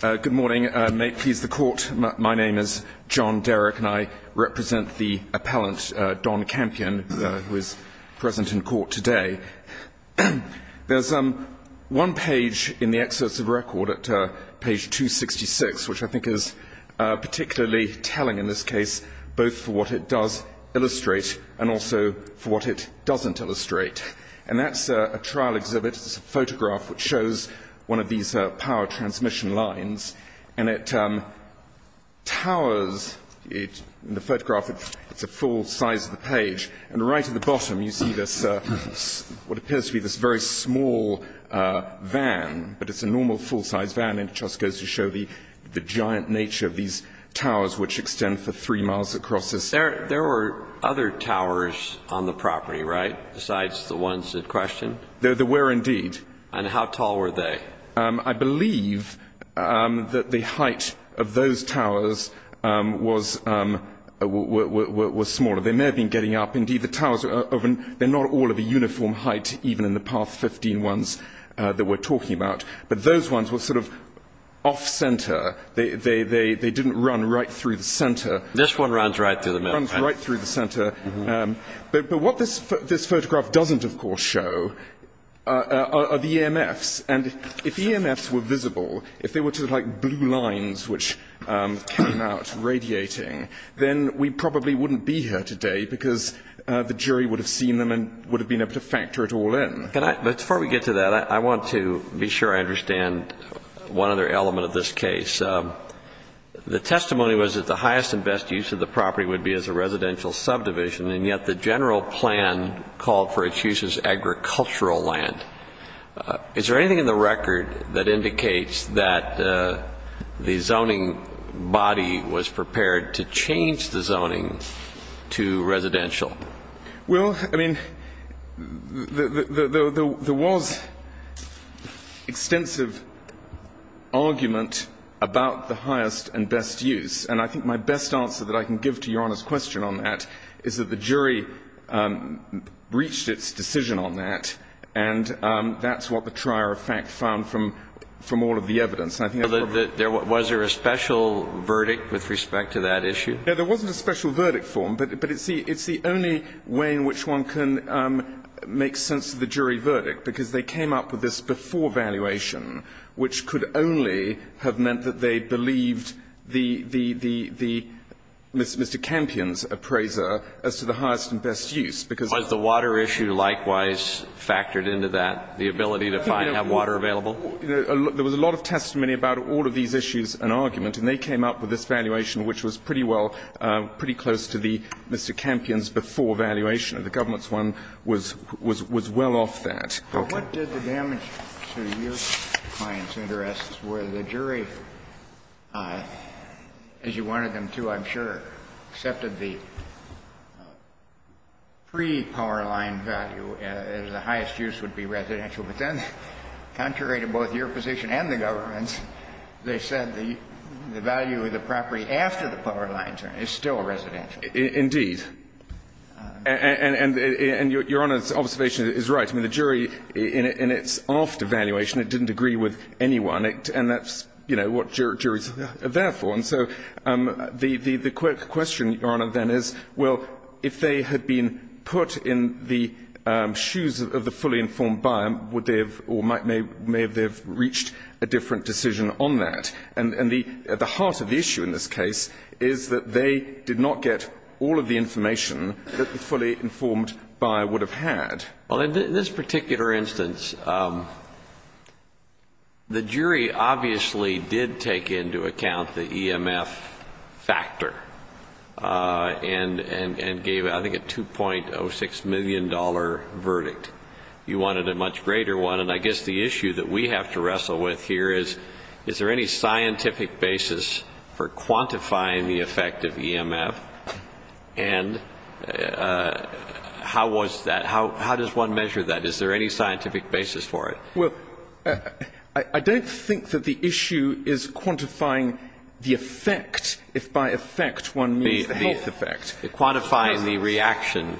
Good morning. May it please the court, my name is John Derrick and I represent the appellant Don Campion who is present in court today. There's one page in the excerpts of record at page 266 which I think is particularly telling in this case both for what it does illustrate and also for what it doesn't illustrate. And that's a trial exhibit. It's a photograph which shows one of these power transmission lines. And it towers. In the photograph it's a full size of the page. And right at the bottom you see this, what appears to be this very small van, but it's a normal full-size van. And it just goes to show the giant nature of these towers which extend for three miles across this. And there were other towers on the property, right, besides the ones in question? There were indeed. And how tall were they? I believe that the height of those towers was smaller. They may have been getting up. Indeed, the towers, they're not all of a uniform height even in the path 15 ones that we're talking about. But those ones were sort of off-center. They didn't run right through the center. This one runs right through the middle. Runs right through the center. But what this photograph doesn't, of course, show are the EMFs. And if EMFs were visible, if they were to look like blue lines which came out radiating, then we probably wouldn't be here today because the jury would have seen them and would have been able to factor it all in. But before we get to that, I want to be sure I understand one other element of this case. The testimony was that the highest and best use of the property would be as a residential subdivision, and yet the general plan called for its use as agricultural land. Is there anything in the record that indicates that the zoning body was prepared to change the zoning to residential? Well, I mean, there was extensive argument about the highest and best use. And I think my best answer that I can give to Your Honor's question on that is that the jury reached its decision on that, and that's what the trier of fact found from all of the evidence. Was there a special verdict with respect to that issue? No, there wasn't a special verdict form, but it's the only way in which one can make sense of the jury verdict because they came up with this before valuation, which could only have meant that they believed Mr. Campion's appraiser as to the highest and best use. Was the water issue likewise factored into that, the ability to have water available? There was a lot of testimony about all of these issues and argument, and they came up with this valuation which was pretty well, pretty close to Mr. Campion's before valuation. The government's one was well off that. What did the damage to your client's interests where the jury, as you wanted them to, I'm sure, accepted the pre-Powerline value as the highest use would be residential, but then contrary to both your position and the government's, they said the value of the property after the Powerline term is still residential. Indeed. And Your Honor's observation is right. I mean, the jury in its after valuation, it didn't agree with anyone, and that's, you know, what juries are there for. And so the quick question, Your Honor, then is, well, if they had been put in the shoes of the fully informed buyer, would they have or may they have reached a different decision on that? And the heart of the issue in this case is that they did not get all of the information that the fully informed buyer would have had. Well, in this particular instance, the jury obviously did take into account the EMF factor and gave, I think, a $2.06 million verdict. You wanted a much greater one. And I guess the issue that we have to wrestle with here is, is there any scientific basis for quantifying the effect of EMF, and how was that? How does one measure that? Is there any scientific basis for it? Well, I don't think that the issue is quantifying the effect, if by effect one means the health effect. It's quantifying the reaction.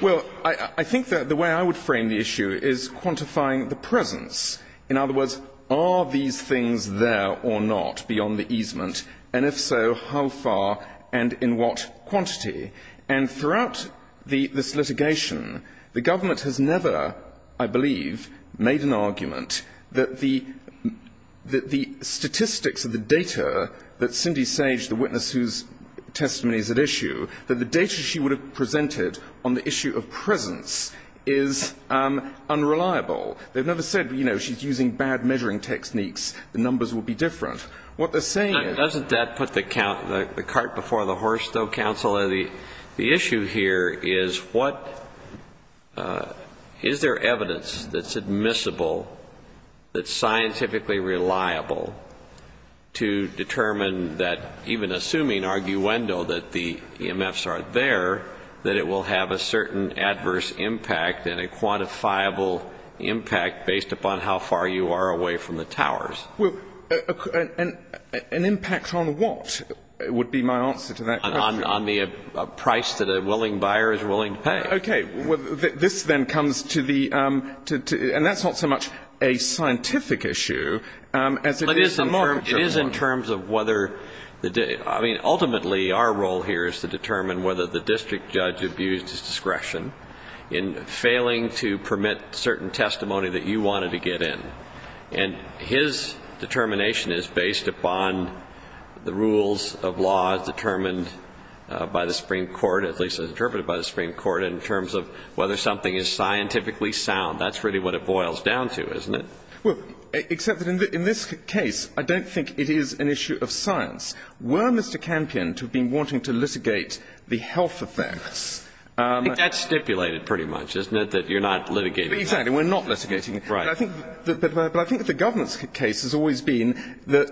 Well, I think that the way I would frame the issue is quantifying the presence. In other words, are these things there or not beyond the easement? And if so, how far and in what quantity? And throughout this litigation, the government has never, I believe, made an argument that the statistics of the data that Cindy Sage, the witness whose testimony is at issue, that the data she would have presented on the issue of presence is unreliable. They've never said, you know, she's using bad measuring techniques, the numbers will be different. Now, doesn't that put the cart before the horse, though, Counselor? The issue here is, is there evidence that's admissible, that's scientifically reliable, to determine that even assuming arguendo that the EMFs are there, that it will have a certain adverse impact and a quantifiable impact based upon how far you are away from the towers? Well, an impact on what would be my answer to that question? On the price that a willing buyer is willing to pay. Okay. Well, this then comes to the ‑‑ and that's not so much a scientific issue as it is a marketer one. It is in terms of whether ‑‑ I mean, ultimately our role here is to determine whether the district judge abused his discretion in failing to permit certain testimony that you wanted to get in. And his determination is based upon the rules of law determined by the Supreme Court, at least as interpreted by the Supreme Court, in terms of whether something is scientifically sound. That's really what it boils down to, isn't it? Well, except that in this case, I don't think it is an issue of science. Were Mr. Campion to have been wanting to litigate the health effects ‑‑ I think that's stipulated pretty much, isn't it, that you're not litigating. Exactly. We're not litigating. Right. But I think that the government's case has always been that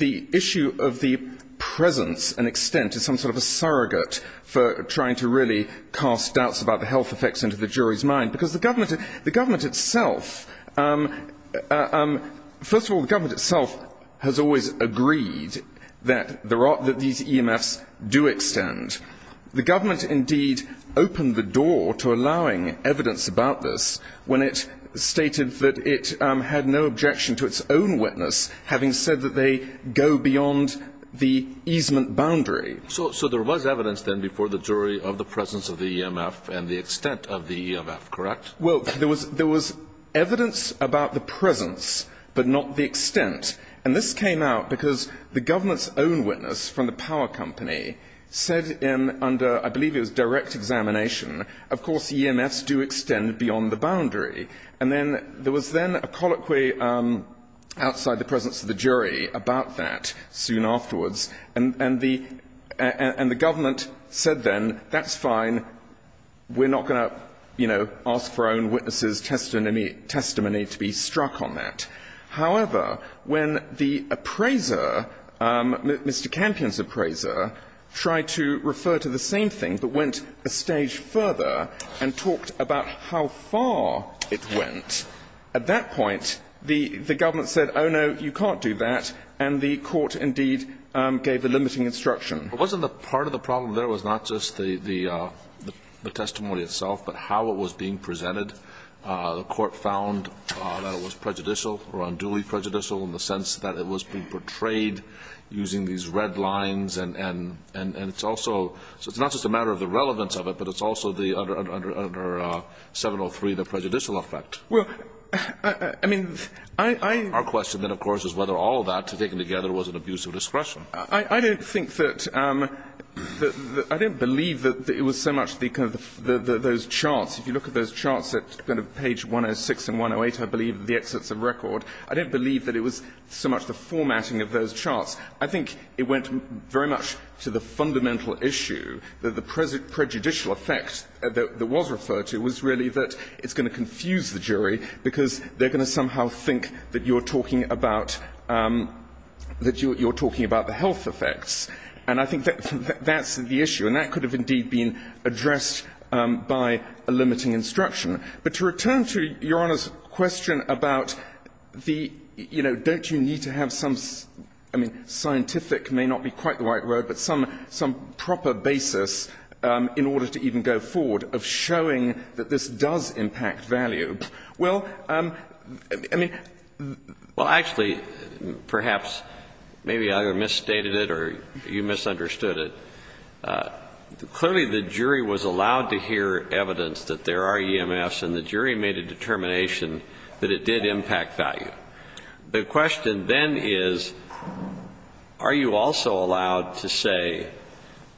the issue of the presence and extent is some sort of a surrogate for trying to really cast doubts about the health effects into the jury's mind. Because the government itself, first of all, the government itself has always agreed that these EMFs do extend. The government indeed opened the door to allowing evidence about this when it stated that it had no objection to its own witness, having said that they go beyond the easement boundary. So there was evidence then before the jury of the presence of the EMF and the extent of the EMF, correct? Well, there was evidence about the presence but not the extent. And this came out because the government's own witness from the power company said under, I believe it was direct examination, of course EMFs do extend beyond the boundary. And then there was then a colloquy outside the presence of the jury about that soon afterwards. And the government said then, that's fine, we're not going to, you know, ask for our own witness' testimony to be struck on that. However, when the appraiser, Mr. Campion's appraiser, tried to refer to the same thing but went a stage further and talked about how far it went, at that point the government said, oh, no, you can't do that. And the court indeed gave the limiting instruction. But wasn't the part of the problem there was not just the testimony itself, but how it was being presented? The court found that it was prejudicial or unduly prejudicial in the sense that it was being portrayed using these red lines. And it's also – so it's not just a matter of the relevance of it, but it's also under 703 the prejudicial effect. Well, I mean, I – Our question then, of course, is whether all of that taken together was an abuse of discretion. I don't think that – I don't believe that it was so much the kind of those charts. If you look at those charts at kind of page 106 and 108, I believe, the exits of record, I don't believe that it was so much the formatting of those charts. I think it went very much to the fundamental issue that the prejudicial effect that was referred to was really that it's going to confuse the jury because they're going to somehow think that you're talking about – that you're talking about the health effects. And I think that's the issue. And that could have indeed been addressed by a limiting instruction. But to return to Your Honor's question about the – you know, don't you need to have some – I mean, scientific may not be quite the right word, but some proper basis in order to even go forward of showing that this does impact value. Well, I mean – well, actually, perhaps maybe I misstated it or you misunderstood it. Clearly, the jury was allowed to hear evidence that there are EMFs, and the jury made a determination that it did impact value. The question then is, are you also allowed to say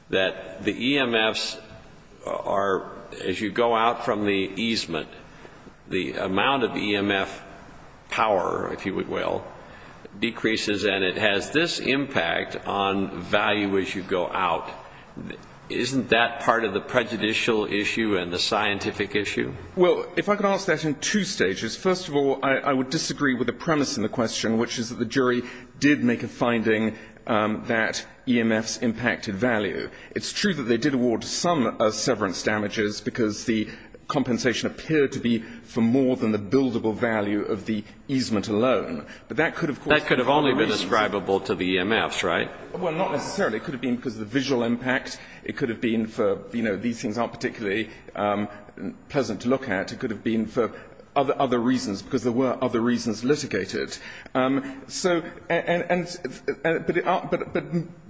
that the EMFs are – as you go out from the easement, the amount of EMF power, if you will, decreases and it has this impact on value as you go out. Isn't that part of the prejudicial issue and the scientific issue? Well, if I could answer that in two stages. First of all, I would disagree with the premise in the question, which is that the jury did make a finding that EMFs impacted value. It's true that they did award some severance damages because the compensation appeared to be for more than the buildable value of the easement alone. But that could have caused – That could have only been ascribable to the EMFs, right? Well, not necessarily. It could have been because of the visual impact. It could have been for – you know, these things aren't particularly pleasant to look at. It could have been for other reasons, because there were other reasons litigated. So – and – but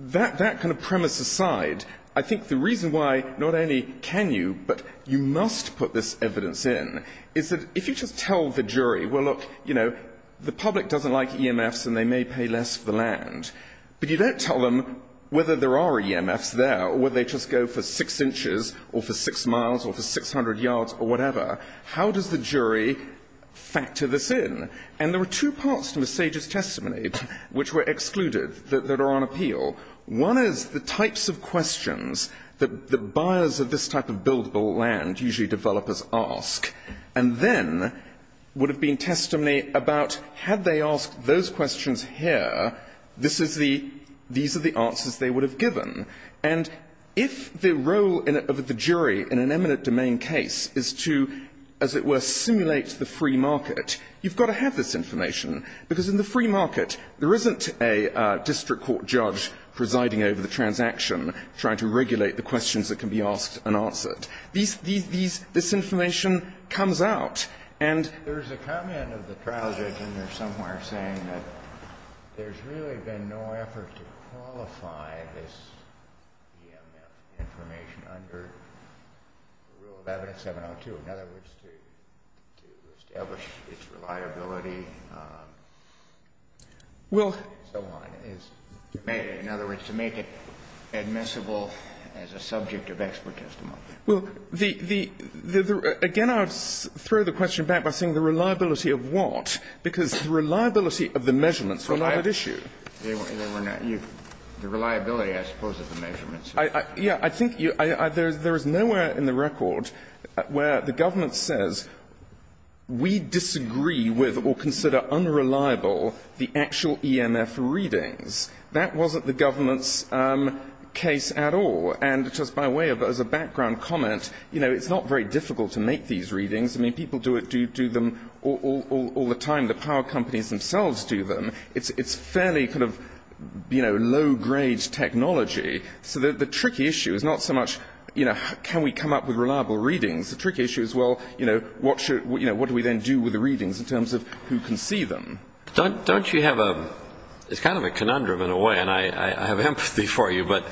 that kind of premise aside, I think the reason why not only can you, but you must put this evidence in, is that if you just tell the jury, well, look, you know, the public doesn't like EMFs and they may pay less for the land, but you don't tell them whether there are EMFs there or whether they just go for 6 inches or for 6 miles or for 600 yards or whatever, how does the jury factor this in? And there were two parts to Ms. Sage's testimony which were excluded that are on appeal. One is the types of questions that buyers of this type of buildable land, usually developers ask, and then would have been testimony about had they asked those questions here, this is the – these are the answers they would have given. And if the role of the jury in an eminent domain case is to, as it were, simulate the free market, you've got to have this information, because in the free market, there isn't a district court judge presiding over the transaction trying to regulate the questions that can be asked and answered. These – these – this information comes out. And there's a comment of the trial judge in there somewhere saying that there's really been no effort to qualify this EMF information under the rule of evidence 702, in other words, to establish its reliability and so on. Well – In other words, to make it admissible as a subject of expert testimony. Well, the – the – the – again, I would throw the question back by saying the reliability of what, because the reliability of the measurements were not at issue. The reliability, I suppose, of the measurements. Yeah. I think you – there is nowhere in the record where the government says we disagree with or consider unreliable the actual EMF readings. That wasn't the government's case at all. And just by way of – as a background comment, you know, it's not very difficult to make these readings. I mean, people do it – do them all the time. The power companies themselves do them. It's fairly kind of, you know, low-grade technology. So the tricky issue is not so much, you know, can we come up with reliable readings? The tricky issue is, well, you know, what should – you know, what do we then do with the readings in terms of who can see them? Don't you have a – it's kind of a conundrum in a way, and I have empathy for you, but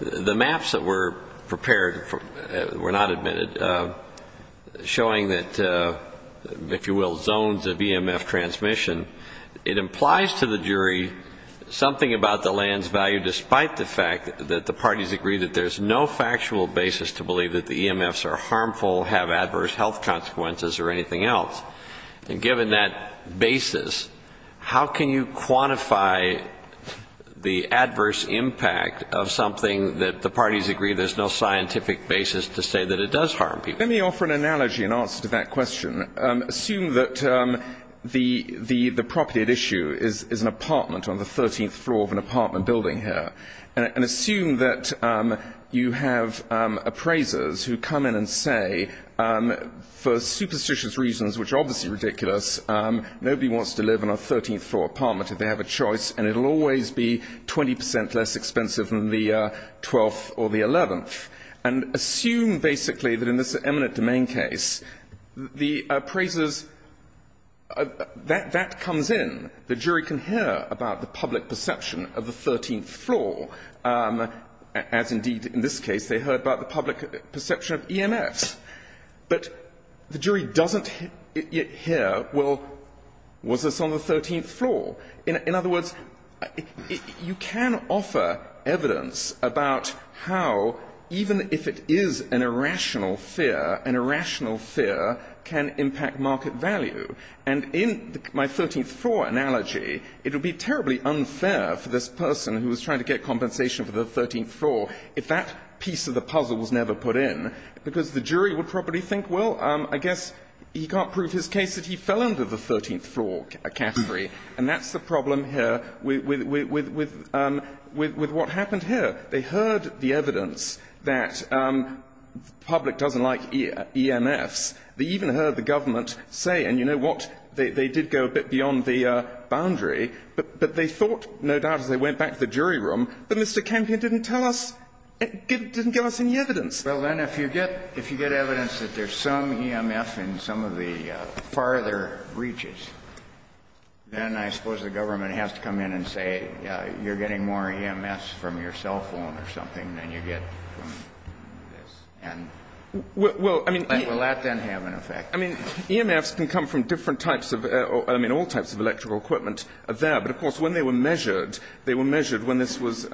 the maps that were prepared were not admitted, showing that, if you will, zones of EMF transmission, it implies to the jury something about the land's value despite the fact that the parties agree that there's no factual basis to believe that the EMFs are harmful, have adverse health consequences, or anything else. And given that basis, how can you quantify the adverse impact of something that the parties agree there's no scientific basis to say that it does harm people? Let me offer an analogy in answer to that question. Assume that the property at issue is an apartment on the 13th floor of an apartment building here. And assume that you have appraisers who come in and say, for superstitious reasons, which are obviously ridiculous, nobody wants to live in a 13th-floor apartment if they have a choice, and it'll always be 20% less expensive than the 12th or the 11th. And assume, basically, that in this eminent domain case, the appraisers – that comes in. The jury can hear about the public perception of the 13th floor, as indeed in this case they heard about the public perception of EMFs. But the jury doesn't hear, well, was this on the 13th floor? In other words, you can offer evidence about how even if it is an irrational fear, an irrational fear can impact market value. And in my 13th-floor analogy, it would be terribly unfair for this person who was trying to get compensation for the 13th floor if that piece of the puzzle was never put in, because the jury would probably think, well, I guess he can't prove his case that he fell under the 13th-floor category. And that's the problem here with what happened here. They heard the evidence that the public doesn't like EMFs. They even heard the government say, and you know what, they did go a bit beyond the jury room, but Mr. Kempion didn't tell us, didn't give us any evidence. Well, then if you get – if you get evidence that there's some EMF in some of the farther reaches, then I suppose the government has to come in and say, you're getting more EMFs from your cell phone or something than you get from this. And will that then have an effect? I mean, EMFs can come from different types of – I mean, all types of electrical equipment are there. But of course, when they were measured, they were measured when this was – you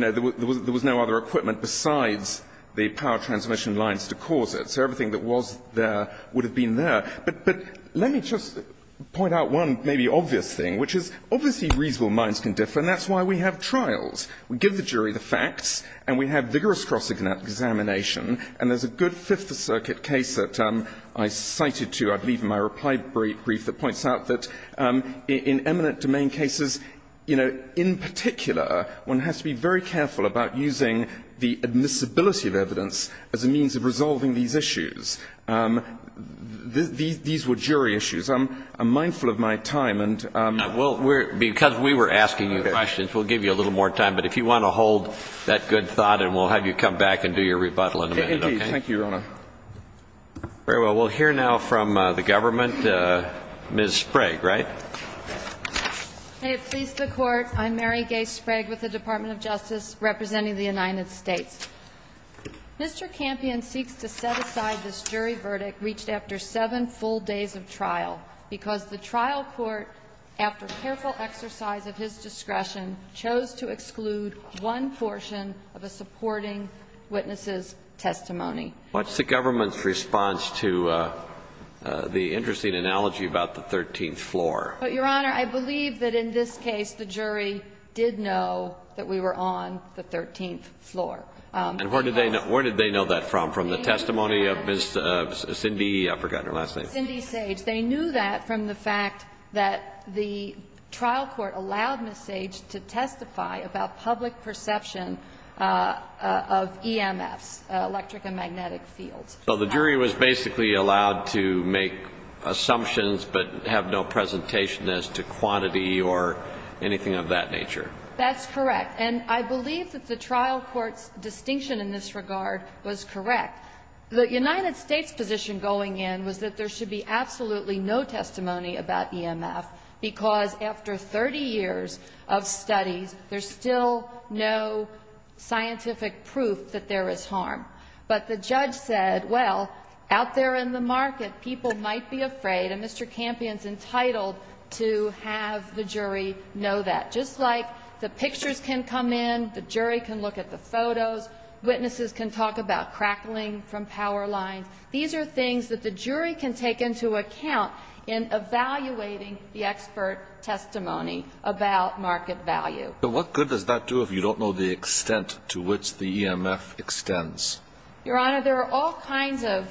know, there was no other equipment besides the power transmission lines to cause it. So everything that was there would have been there. But let me just point out one maybe obvious thing, which is obviously reasonable minds can differ, and that's why we have trials. We give the jury the facts, and we have vigorous cross-examination. And there's a good Fifth Circuit case that I cited to, I believe, in my reply brief that points out that in eminent domain cases, you know, in particular, one has to be very careful about using the admissibility of evidence as a means of resolving these issues. These were jury issues. I'm mindful of my time. And we'll – because we were asking you questions, we'll give you a little more time. But if you want to hold that good thought, and we'll have you come back and do your rebuttal in a minute, okay? Indeed. Thank you, Your Honor. Very well. We'll hear now from the government. Ms. Sprague, right? May it please the Court. I'm Mary Gay Sprague with the Department of Justice representing the United States. Mr. Campion seeks to set aside this jury verdict reached after seven full days of trial because the trial court, after careful exercise of his discretion, chose to exclude one portion of a supporting witness's testimony. What's the government's response to the interesting analogy about the 13th floor? Your Honor, I believe that in this case, the jury did know that we were on the 13th floor. And where did they know that from? From the testimony of Ms. Cindy – I've forgotten her last name. Cindy Sage. They knew that from the fact that the trial court allowed Ms. Sage to testify about public perception of EMFs, electric and magnetic fields. So the jury was basically allowed to make assumptions but have no presentation as to quantity or anything of that nature. That's correct. And I believe that the trial court's distinction in this regard was correct. The United States' position going in was that there should be absolutely no testimony about EMF, because after 30 years of studies, there's still no scientific proof that there is harm. But the judge said, well, out there in the market, people might be afraid, and Mr. Campion's entitled to have the jury know that. Just like the pictures can come in, the jury can look at the photos, witnesses can talk about crackling from power lines. These are things that the jury can take into account in evaluating the expert testimony about market value. But what good does that do if you don't know the extent to which the EMF extends? Your Honor, there are all kinds of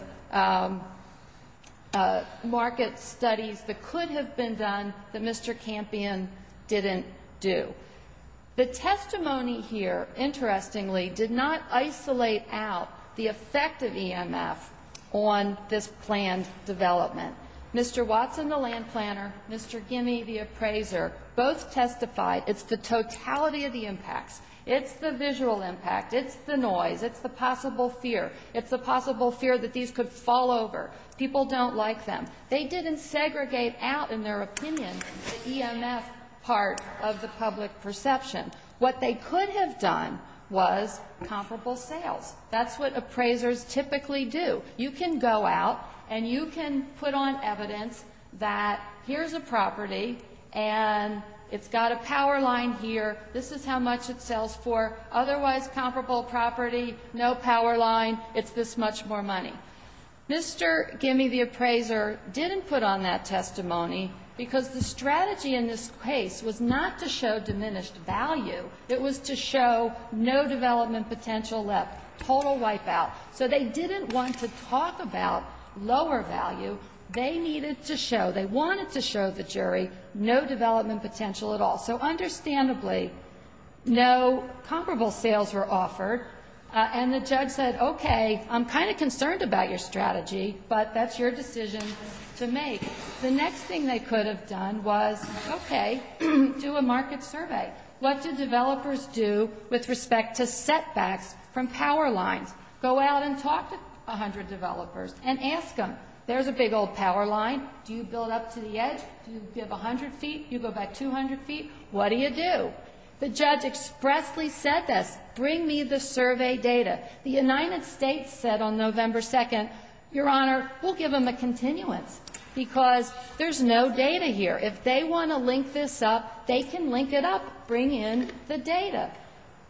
market studies that could have been done that Mr. Campion didn't do. The testimony here, interestingly, did not isolate out the effect of EMF on this planned development. Mr. Watson, the land planner, Mr. Gimme, the appraiser, both testified it's the totality of the impacts. It's the visual impact. It's the noise. It's the possible fear. It's the possible fear that these could fall over. People don't like them. They didn't segregate out in their opinion the EMF part of the public perception. What they could have done was comparable sales. That's what appraisers typically do. You can go out and you can put on evidence that here's a property and it's got a power line here, this is how much it sells for, otherwise comparable property, no power line, it's this much more money. Mr. Gimme, the appraiser, didn't put on that testimony because the strategy in this case was not to show diminished value. It was to show no development potential left, total wipeout. So they didn't want to talk about lower value. They needed to show, they wanted to show the jury, no development potential at all. So understandably, no comparable sales were offered. And the judge said, okay, I'm kind of concerned about your strategy, but that's your decision to make. The next thing they could have done was, okay, do a market survey. What do developers do with respect to setbacks from power lines? Go out and talk to 100 developers and ask them, there's a big old power line, do you build up to the edge, do you give 100 feet, do you go back 200 feet, what do you do? The judge expressly said this, bring me the survey data. The United States said on November 2nd, Your Honor, we'll give them a continuance because there's no data here. If they want to link this up, they can link it up, bring in the data.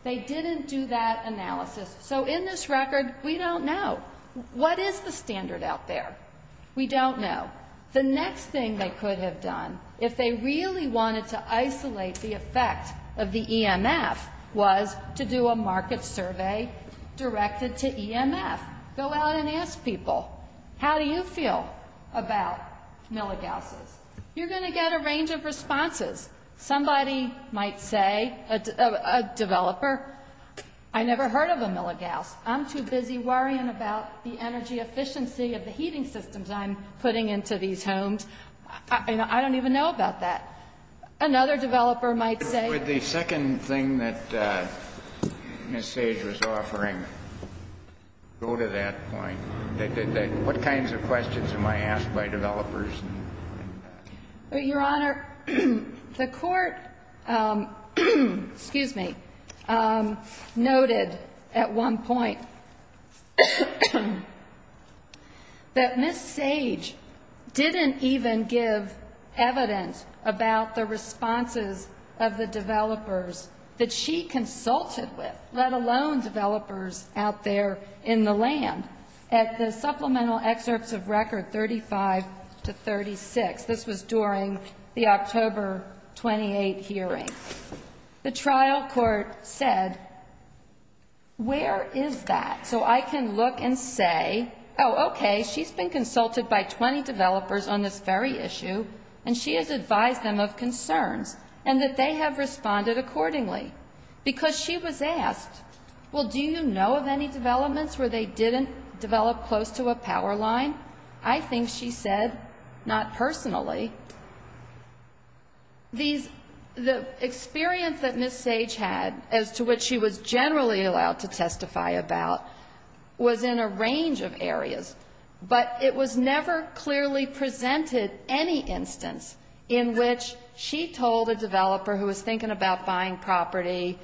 They didn't do that analysis. So in this record, we don't know. What is the standard out there? We don't know. The next thing they could have done if they really wanted to isolate the effect of the EMF was to do a market survey directed to EMF. Go out and ask people, how do you feel about milligausses? You're going to get a range of responses. Somebody might say, a developer, I never heard of a milligauss. I'm too busy worrying about the energy efficiency of the heating systems I'm putting into these homes. I don't even know about that. Another developer might say. Would the second thing that Ms. Sage was offering go to that point? Your Honor, the court noted at one point that Ms. Sage didn't even give evidence about the responses of the developers that she consulted with, let alone developers out there in the land. At the supplemental excerpts of record 35 to 36, this was during the October 28 hearing, the trial court said, where is that? So I can look and say, oh, okay, she's been consulted by 20 developers on this very issue and she has advised them of concerns and that they have responded accordingly because she was asked, well, do you know of any developments where they didn't develop close to a power line? I think she said, not personally. The experience that Ms. Sage had as to what she was generally allowed to testify about was in a range of areas, but it was never clearly presented any instance in which she told a developer who was thinking about buying property,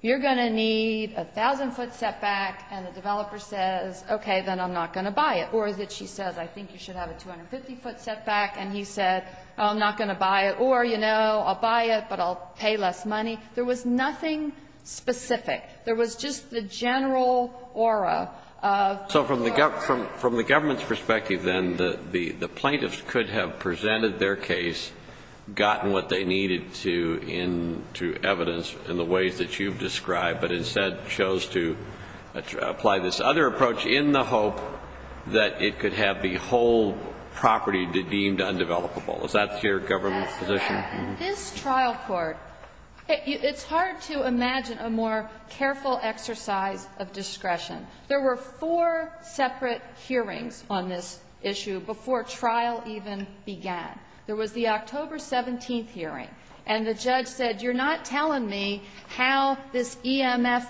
you're going to need a 1,000-foot setback, and the developer says, okay, then I'm not going to buy it. Or that she says, I think you should have a 250-foot setback, and he said, I'm not going to buy it. Or, you know, I'll buy it, but I'll pay less money. There was nothing specific. There was just the general aura. So from the government's perspective, then, the plaintiffs could have presented their case, gotten what they needed to in to evidence in the ways that you've described, but instead chose to apply this other approach in the hope that it could have the whole property deemed undevelopable. Is that your government's position? That's correct. In this trial court, it's hard to imagine a more careful exercise of discretion. There were four separate hearings on this issue before trial even began. There was the October 17th hearing, and the judge said, you're not telling me how this EMF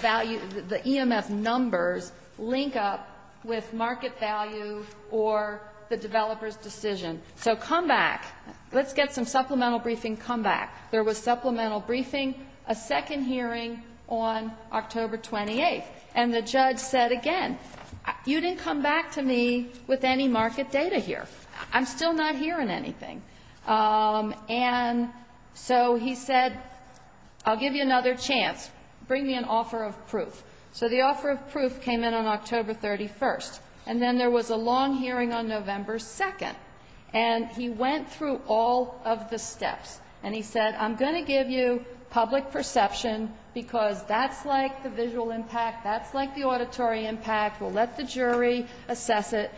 value, the EMF numbers link up with market value or the developer's decision. So come back. Let's get some supplemental briefing. Come back. There was supplemental briefing, a second hearing on October 28th. And the judge said again, you didn't come back to me with any market data here. I'm still not hearing anything. And so he said, I'll give you another chance. Bring me an offer of proof. So the offer of proof came in on October 31st. And then there was a long hearing on November 2nd. And he went through all of the steps, and he said, I'm going to give you public perception because that's like the visual impact, that's like the auditory impact. We'll let the jury assess it.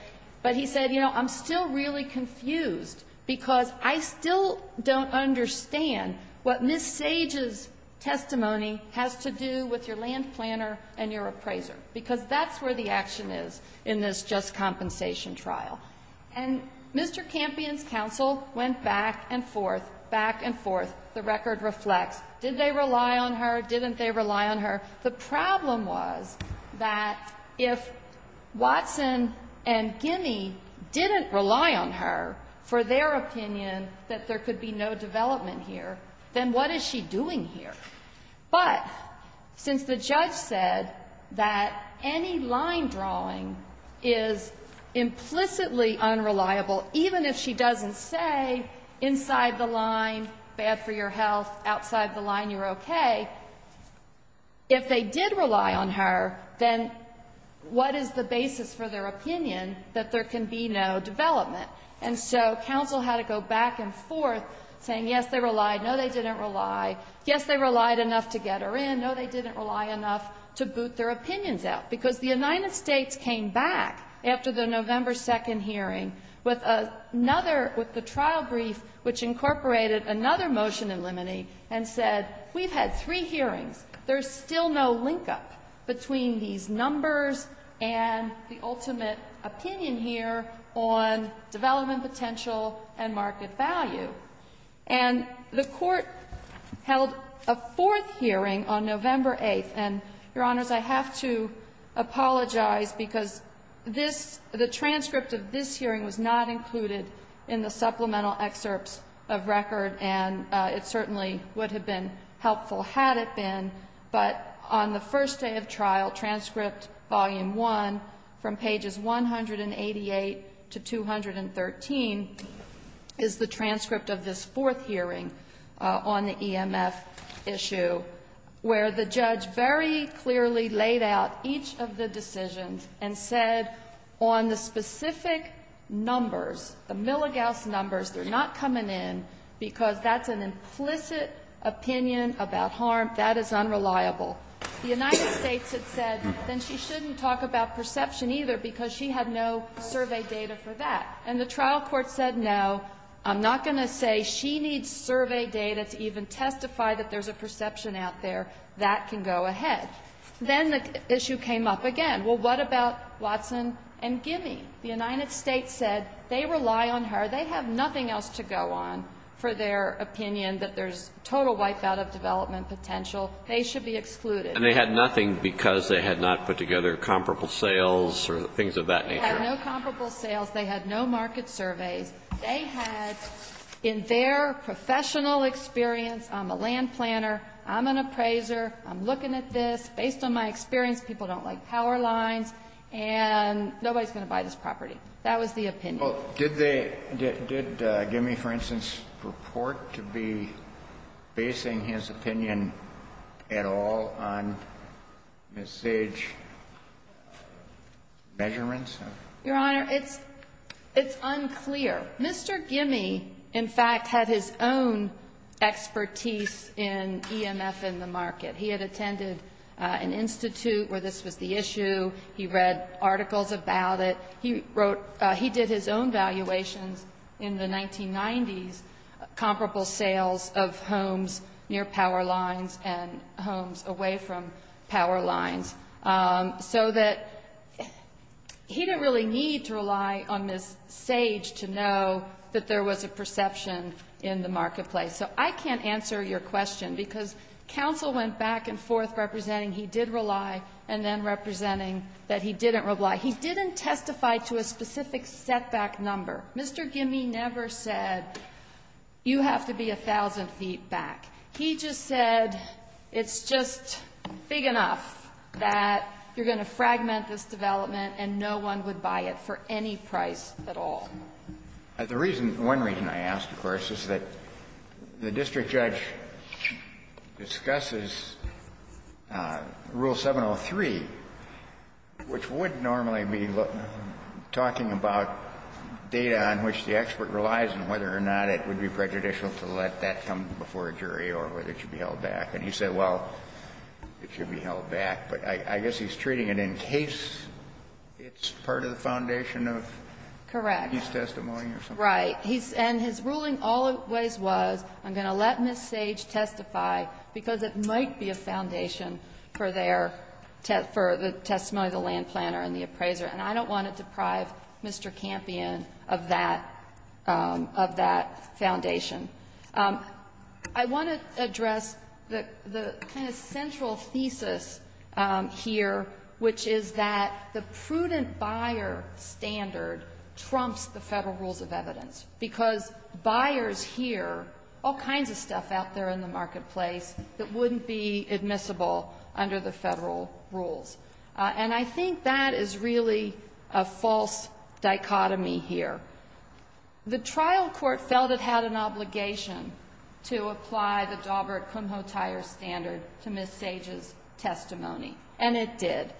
But he said, you know, I'm still really confused because I still don't understand what Ms. Sage's testimony has to do with your land planner and your appraiser, because that's where the action is in this just compensation trial. And Mr. Campion's counsel went back and forth, back and forth. The record reflects. Did they rely on her? Didn't they rely on her? The problem was that if Watson and Gimme didn't rely on her for their opinion that there could be no development here, then what is she doing here? But since the judge said that any line drawing is implicitly unreliable, even if she doesn't say inside the line, bad for your health, outside the line you're okay, if they did rely on her, then what is the basis for their opinion that there can be no development? And so counsel had to go back and forth saying, yes, they relied. No, they didn't rely. Yes, they relied enough to get her in. No, they didn't rely enough to boot their opinions out. Because the United States came back after the November 2nd hearing with another trial brief which incorporated another motion in limine and said, we've had three hearings. There's still no link-up between these numbers and the ultimate opinion here on development potential and market value. And the Court held a fourth hearing on November 8th. And, Your Honors, I have to apologize because this, the transcript of this hearing was not included in the supplemental excerpts of record, and it certainly would have been helpful had it been. But on the first day of trial, transcript volume one from pages 188 to 213 is the transcript of this fourth hearing on the EMF issue where the judge very clearly laid out each of the decisions and said on the specific numbers, the milligauss numbers, they're not coming in because that's an implicit opinion about harm. That is unreliable. The United States had said, then she shouldn't talk about perception either because she had no survey data for that. And the trial court said, no, I'm not going to say she needs survey data to even testify that there's a perception out there. That can go ahead. Then the issue came up again. Well, what about Watson and Gimme? The United States said they rely on her. They have nothing else to go on for their opinion that there's total wipeout of development potential. They should be excluded. And they had nothing because they had not put together comparable sales or things of that nature. They had no comparable sales. They had no market surveys. They had in their professional experience, I'm a land planner, I'm an appraiser, I'm looking at this. Based on my experience, people don't like power lines and nobody's going to buy this property. That was the opinion. Well, did they, did Gimme, for instance, purport to be basing his opinion at all on Ms. Sage's measurements? Your Honor, it's unclear. Mr. Gimme, in fact, had his own expertise in EMF in the market. He had attended an institute where this was the issue. He read articles about it. He wrote, he did his own valuations in the 1990s, comparable sales of homes near power lines and homes away from power lines so that he didn't really need to rely on Ms. Sage to know that there was a perception in the marketplace. So I can't answer your question because counsel went back and forth representing he did rely and then representing that he didn't rely. He didn't testify to a specific setback number. Mr. Gimme never said you have to be 1,000 feet back. He just said it's just big enough that you're going to fragment this development and no one would buy it for any price at all. And the reason, one reason I asked, of course, is that the district judge discusses Rule 703, which would normally be talking about data on which the expert relies and whether or not it would be prejudicial to let that come before a jury or whether it should be held back. And he said, well, it should be held back. But I guess he's treating it in case it's part of the foundation of his testimony or something. Correct. Right. And his ruling always was I'm going to let Ms. Sage testify because it might be a foundation for their testimony, the land planner and the appraiser. And I don't want to deprive Mr. Campion of that foundation. I want to address the kind of central thesis here, which is that the prudent buyer standard trumps the Federal Rules of Evidence because buyers hear all kinds of stuff out there in the marketplace that wouldn't be admissible under the Federal Rules. And I think that is really a false dichotomy here. The trial court felt it had an obligation to apply the Daubert-Kumho-Tyer standard to Ms. Sage's testimony, and it did.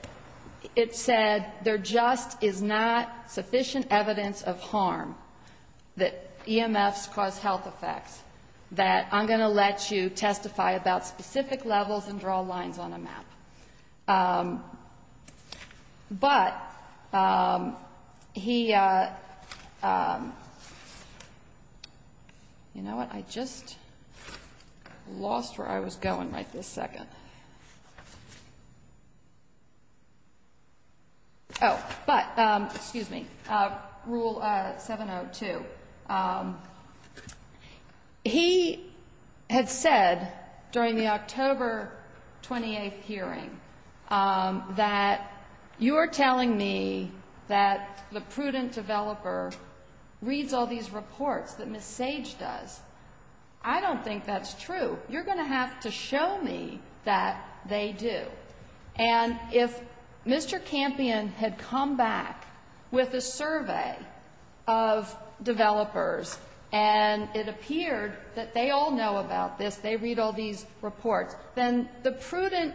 It said there just is not sufficient evidence of harm that EMFs cause health effects that I'm going to let you testify about specific levels and draw lines on a map. But he, you know what? I just lost where I was going right this second. Oh, but, excuse me, Rule 702. He had said during the October 28th hearing that you are telling me that the prudent developer reads all these reports that Ms. Sage does. I don't think that's true. You're going to have to show me that they do. And if Mr. Campion had come back with a survey of developers and it appeared that they all know about this, they read all these reports, then the prudent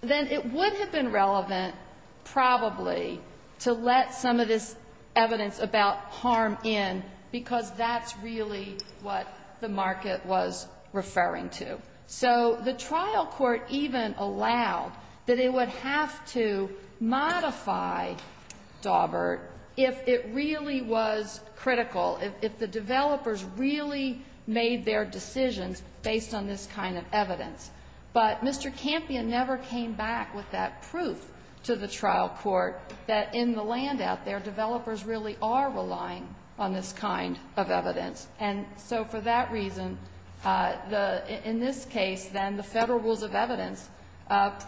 then it would have been relevant probably to let some of this evidence about harm in because that's really what the market was referring to. So the trial court even allowed that it would have to modify Daubert if it really was critical, if the developers really made their decisions based on this kind of evidence. But Mr. Campion never came back with that proof to the trial court that in the land out there, developers really are relying on this kind of evidence. And so for that reason, in this case, then, the Federal rules of evidence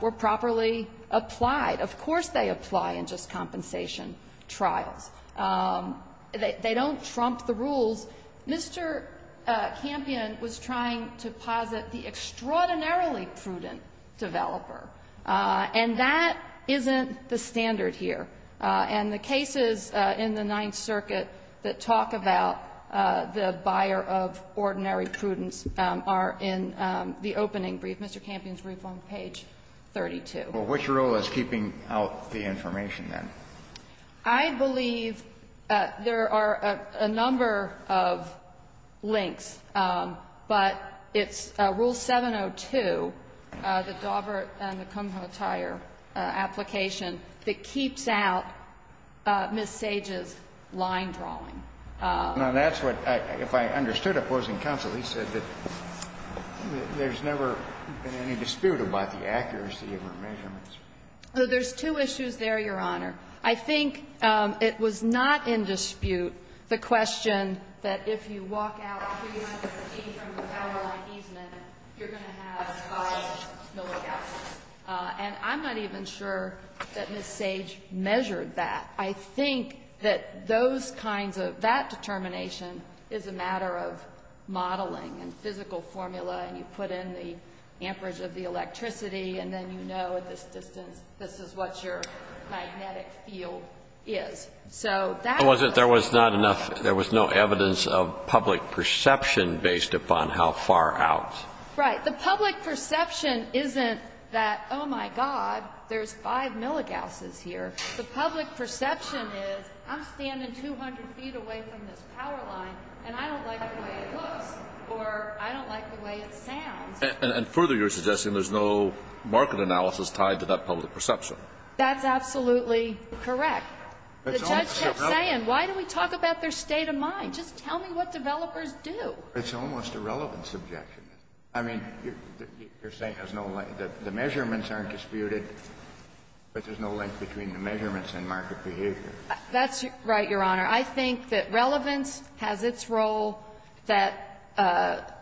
were properly applied. Of course they apply in just compensation trials. They don't trump the rules. Mr. Campion was trying to posit the extraordinarily prudent developer. And that isn't the standard here. And the cases in the Ninth Circuit that talk about the buyer of ordinary prudence are in the opening brief. Mr. Campion's brief on page 32. Kennedy. Well, which rule is keeping out the information, then? I believe there are a number of links, but it's rule 702, the Daubert and the Kumho application, that keeps out Ms. Sage's line drawing. Now, that's what, if I understood it, opposing counsel, he said that there's never been any dispute about the accuracy of her measurements. There's two issues there, Your Honor. I think it was not in dispute, the question that if you walk out after you have And I'm not even sure that Ms. Sage measured that. I think that those kinds of that determination is a matter of modeling and physical formula, and you put in the amperage of the electricity, and then you know at this distance this is what your magnetic field is. So that's the problem. There was no evidence of public perception based upon how far out. Right. The public perception isn't that, oh, my God, there's five milligausses here. The public perception is I'm standing 200 feet away from this power line, and I don't like the way it looks, or I don't like the way it sounds. And further, you're suggesting there's no market analysis tied to that public perception. That's absolutely correct. The judge kept saying, why do we talk about their state of mind? Just tell me what developers do. It's almost a relevance objection. I mean, you're saying there's no link. The measurements aren't disputed, but there's no link between the measurements and market behavior. That's right, Your Honor. I think that relevance has its role, that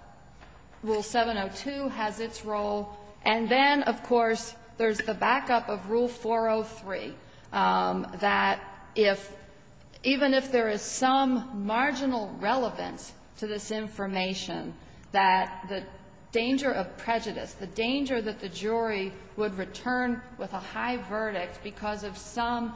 Rule 702 has its role. And then, of course, there's the backup of Rule 403, that if, even if there is some danger of prejudice, the danger that the jury would return with a high verdict because of some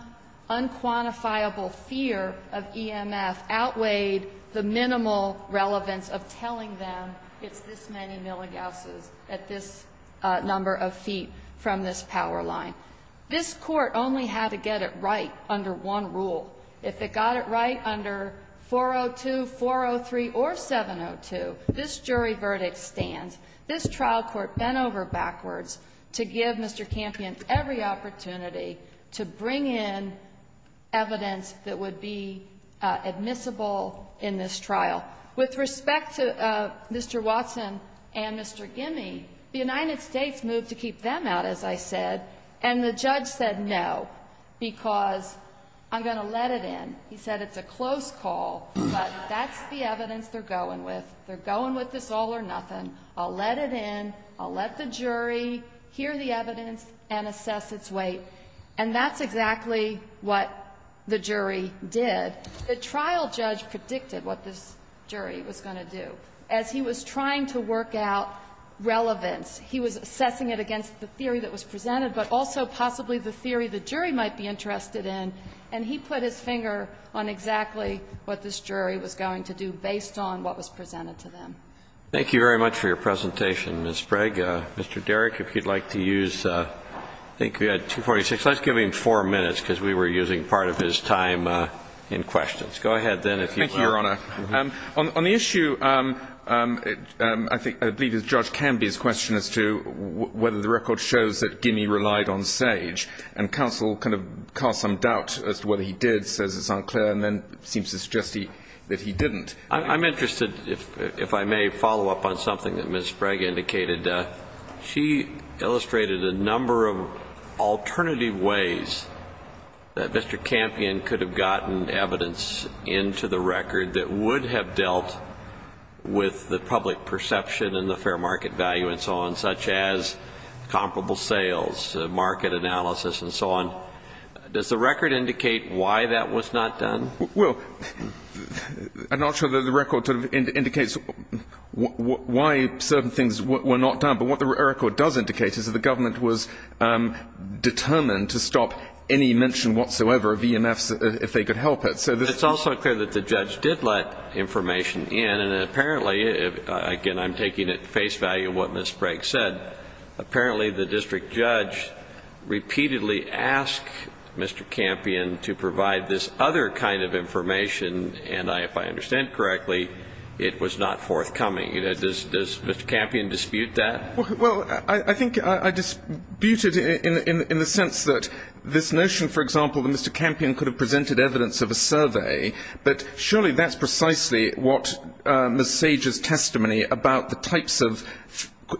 unquantifiable fear of EMF outweighed the minimal relevance of telling them it's this many milligausses at this number of feet from this power line. This Court only had to get it right under one rule. If it got it right under 402, 403, or 702, this jury verdict stands. This trial court bent over backwards to give Mr. Campion every opportunity to bring in evidence that would be admissible in this trial. With respect to Mr. Watson and Mr. Gimme, the United States moved to keep them out, as I said. And the judge said, no, because I'm going to let it in. He said, it's a close call, but that's the evidence they're going with. They're going with this all or nothing. I'll let it in. I'll let the jury hear the evidence and assess its weight. And that's exactly what the jury did. The trial judge predicted what this jury was going to do. As he was trying to work out relevance, he was assessing it against the theory that was presented, but also possibly the theory the jury might be interested in, and he put his finger on exactly what this jury was going to do based on what was presented to them. Thank you very much for your presentation, Ms. Sprague. Mr. Derrick, if you'd like to use, I think we had 246. Let's give him four minutes, because we were using part of his time in questions. Go ahead, then, if you will. Thank you, Your Honor. On the issue, I think, I believe it's Judge Canby's question as to whether the record shows that Gimme relied on Sage. And counsel kind of casts some doubt as to whether he did, says it's unclear, and then seems to suggest that he didn't. I'm interested, if I may follow up on something that Ms. Sprague indicated. She illustrated a number of alternative ways that Mr. Campion could have gotten evidence into the record that would have dealt with the public perception and the fair market value and so on, such as comparable sales, market analysis, and so on. Does the record indicate why that was not done? Well, I'm not sure that the record sort of indicates why certain things were not done. But what the record does indicate is that the government was determined to stop any mention whatsoever of EMFs if they could help it. It's also clear that the judge did let information in. And apparently, again, I'm taking at face value what Ms. Sprague said, apparently the district judge repeatedly asked Mr. Campion to provide this other kind of information, and if I understand correctly, it was not forthcoming. Does Mr. Campion dispute that? Well, I think I dispute it in the sense that this notion, for example, that Mr. Campion could have presented evidence of a survey, but surely that's precisely what Ms. Sage's testimony about the types of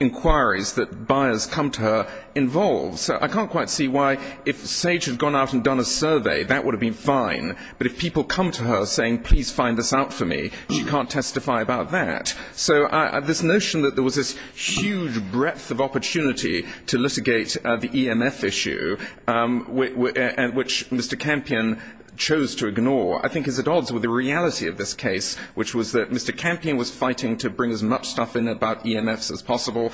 inquiries that buyers come to her involves. So I can't quite see why if Sage had gone out and done a survey, that would have been fine. But if people come to her saying, please find this out for me, she can't testify about that. So this notion that there was this huge breadth of opportunity to litigate the EMF issue, which Mr. Campion chose to ignore, I think is at odds with the reality of this case, which was that Mr. Campion was fighting to bring as much stuff in about EMFs as possible,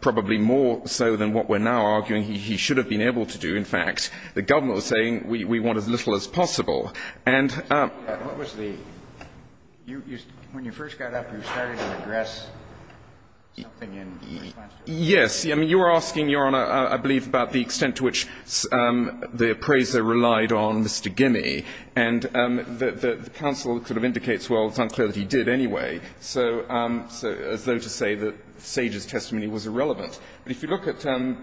probably more so than what we're now arguing he should have been able to do, in fact. The government was saying, we want as little as possible. And what was the ñ when you first got up, you started to address something in response to it? Yes. I mean, you were asking, Your Honor, I believe, about the extent to which the appraiser relied on Mr. Gimme. And the counsel sort of indicates, well, it's unclear that he did anyway. So as though to say that Sage's testimony was irrelevant. But if you look at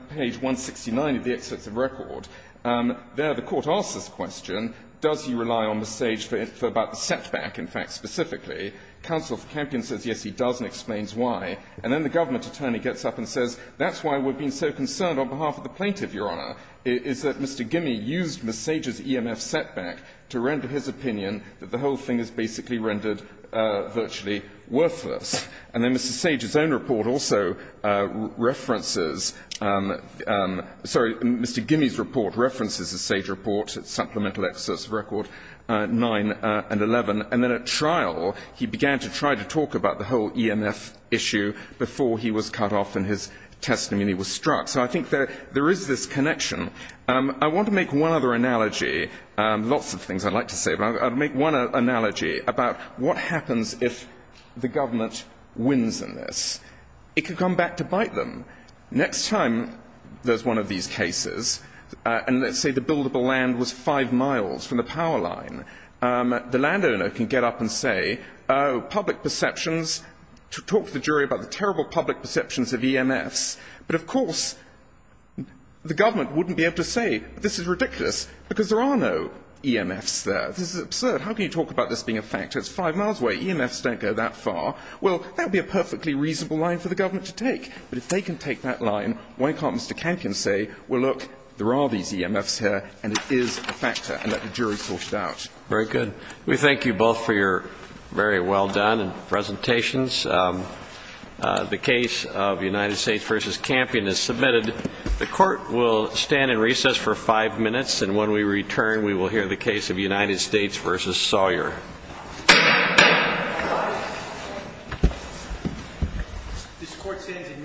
page 169 of the excerpts of record, there the court asks this question, does he rely on Ms. Sage for about the setback, in fact, specifically? Counsel for Campion says yes, he does, and explains why. And then the government attorney gets up and says, that's why we've been so concerned on behalf of the plaintiff, Your Honor, is that Mr. Gimme used Ms. Sage's EMF setback to render his opinion that the whole thing is basically rendered virtually worthless. And then Mr. Sage's own report also references ñ sorry, Mr. Gimme's report references the Sage report, its supplemental excerpts of record 9 and 11. And then at trial, he began to try to talk about the whole EMF issue before he was cut off and his testimony was struck. So I think there is this connection. I want to make one other analogy, lots of things I'd like to say, but I'll make one analogy about what happens if the government wins in this. It can come back to bite them. Next time there's one of these cases, and let's say the buildable land was five miles from the power line, the landowner can get up and say, oh, public perceptions ñ talk to the jury about the terrible public perceptions of EMFs. But, of course, the government wouldn't be able to say this is ridiculous because there are no EMFs there. This is absurd. How can you talk about this being a factor? It's five miles away. EMFs don't go that far. Well, that would be a perfectly reasonable line for the government to take. But if they can take that line, why can't Mr. Campion say, well, look, there are these Very good. We thank you both for your very well-done presentations. The case of United States v. Campion is submitted. The Court will stand in recess for five minutes, and when we return, we will hear the case of United States v. Sawyer. This Court stands in recess.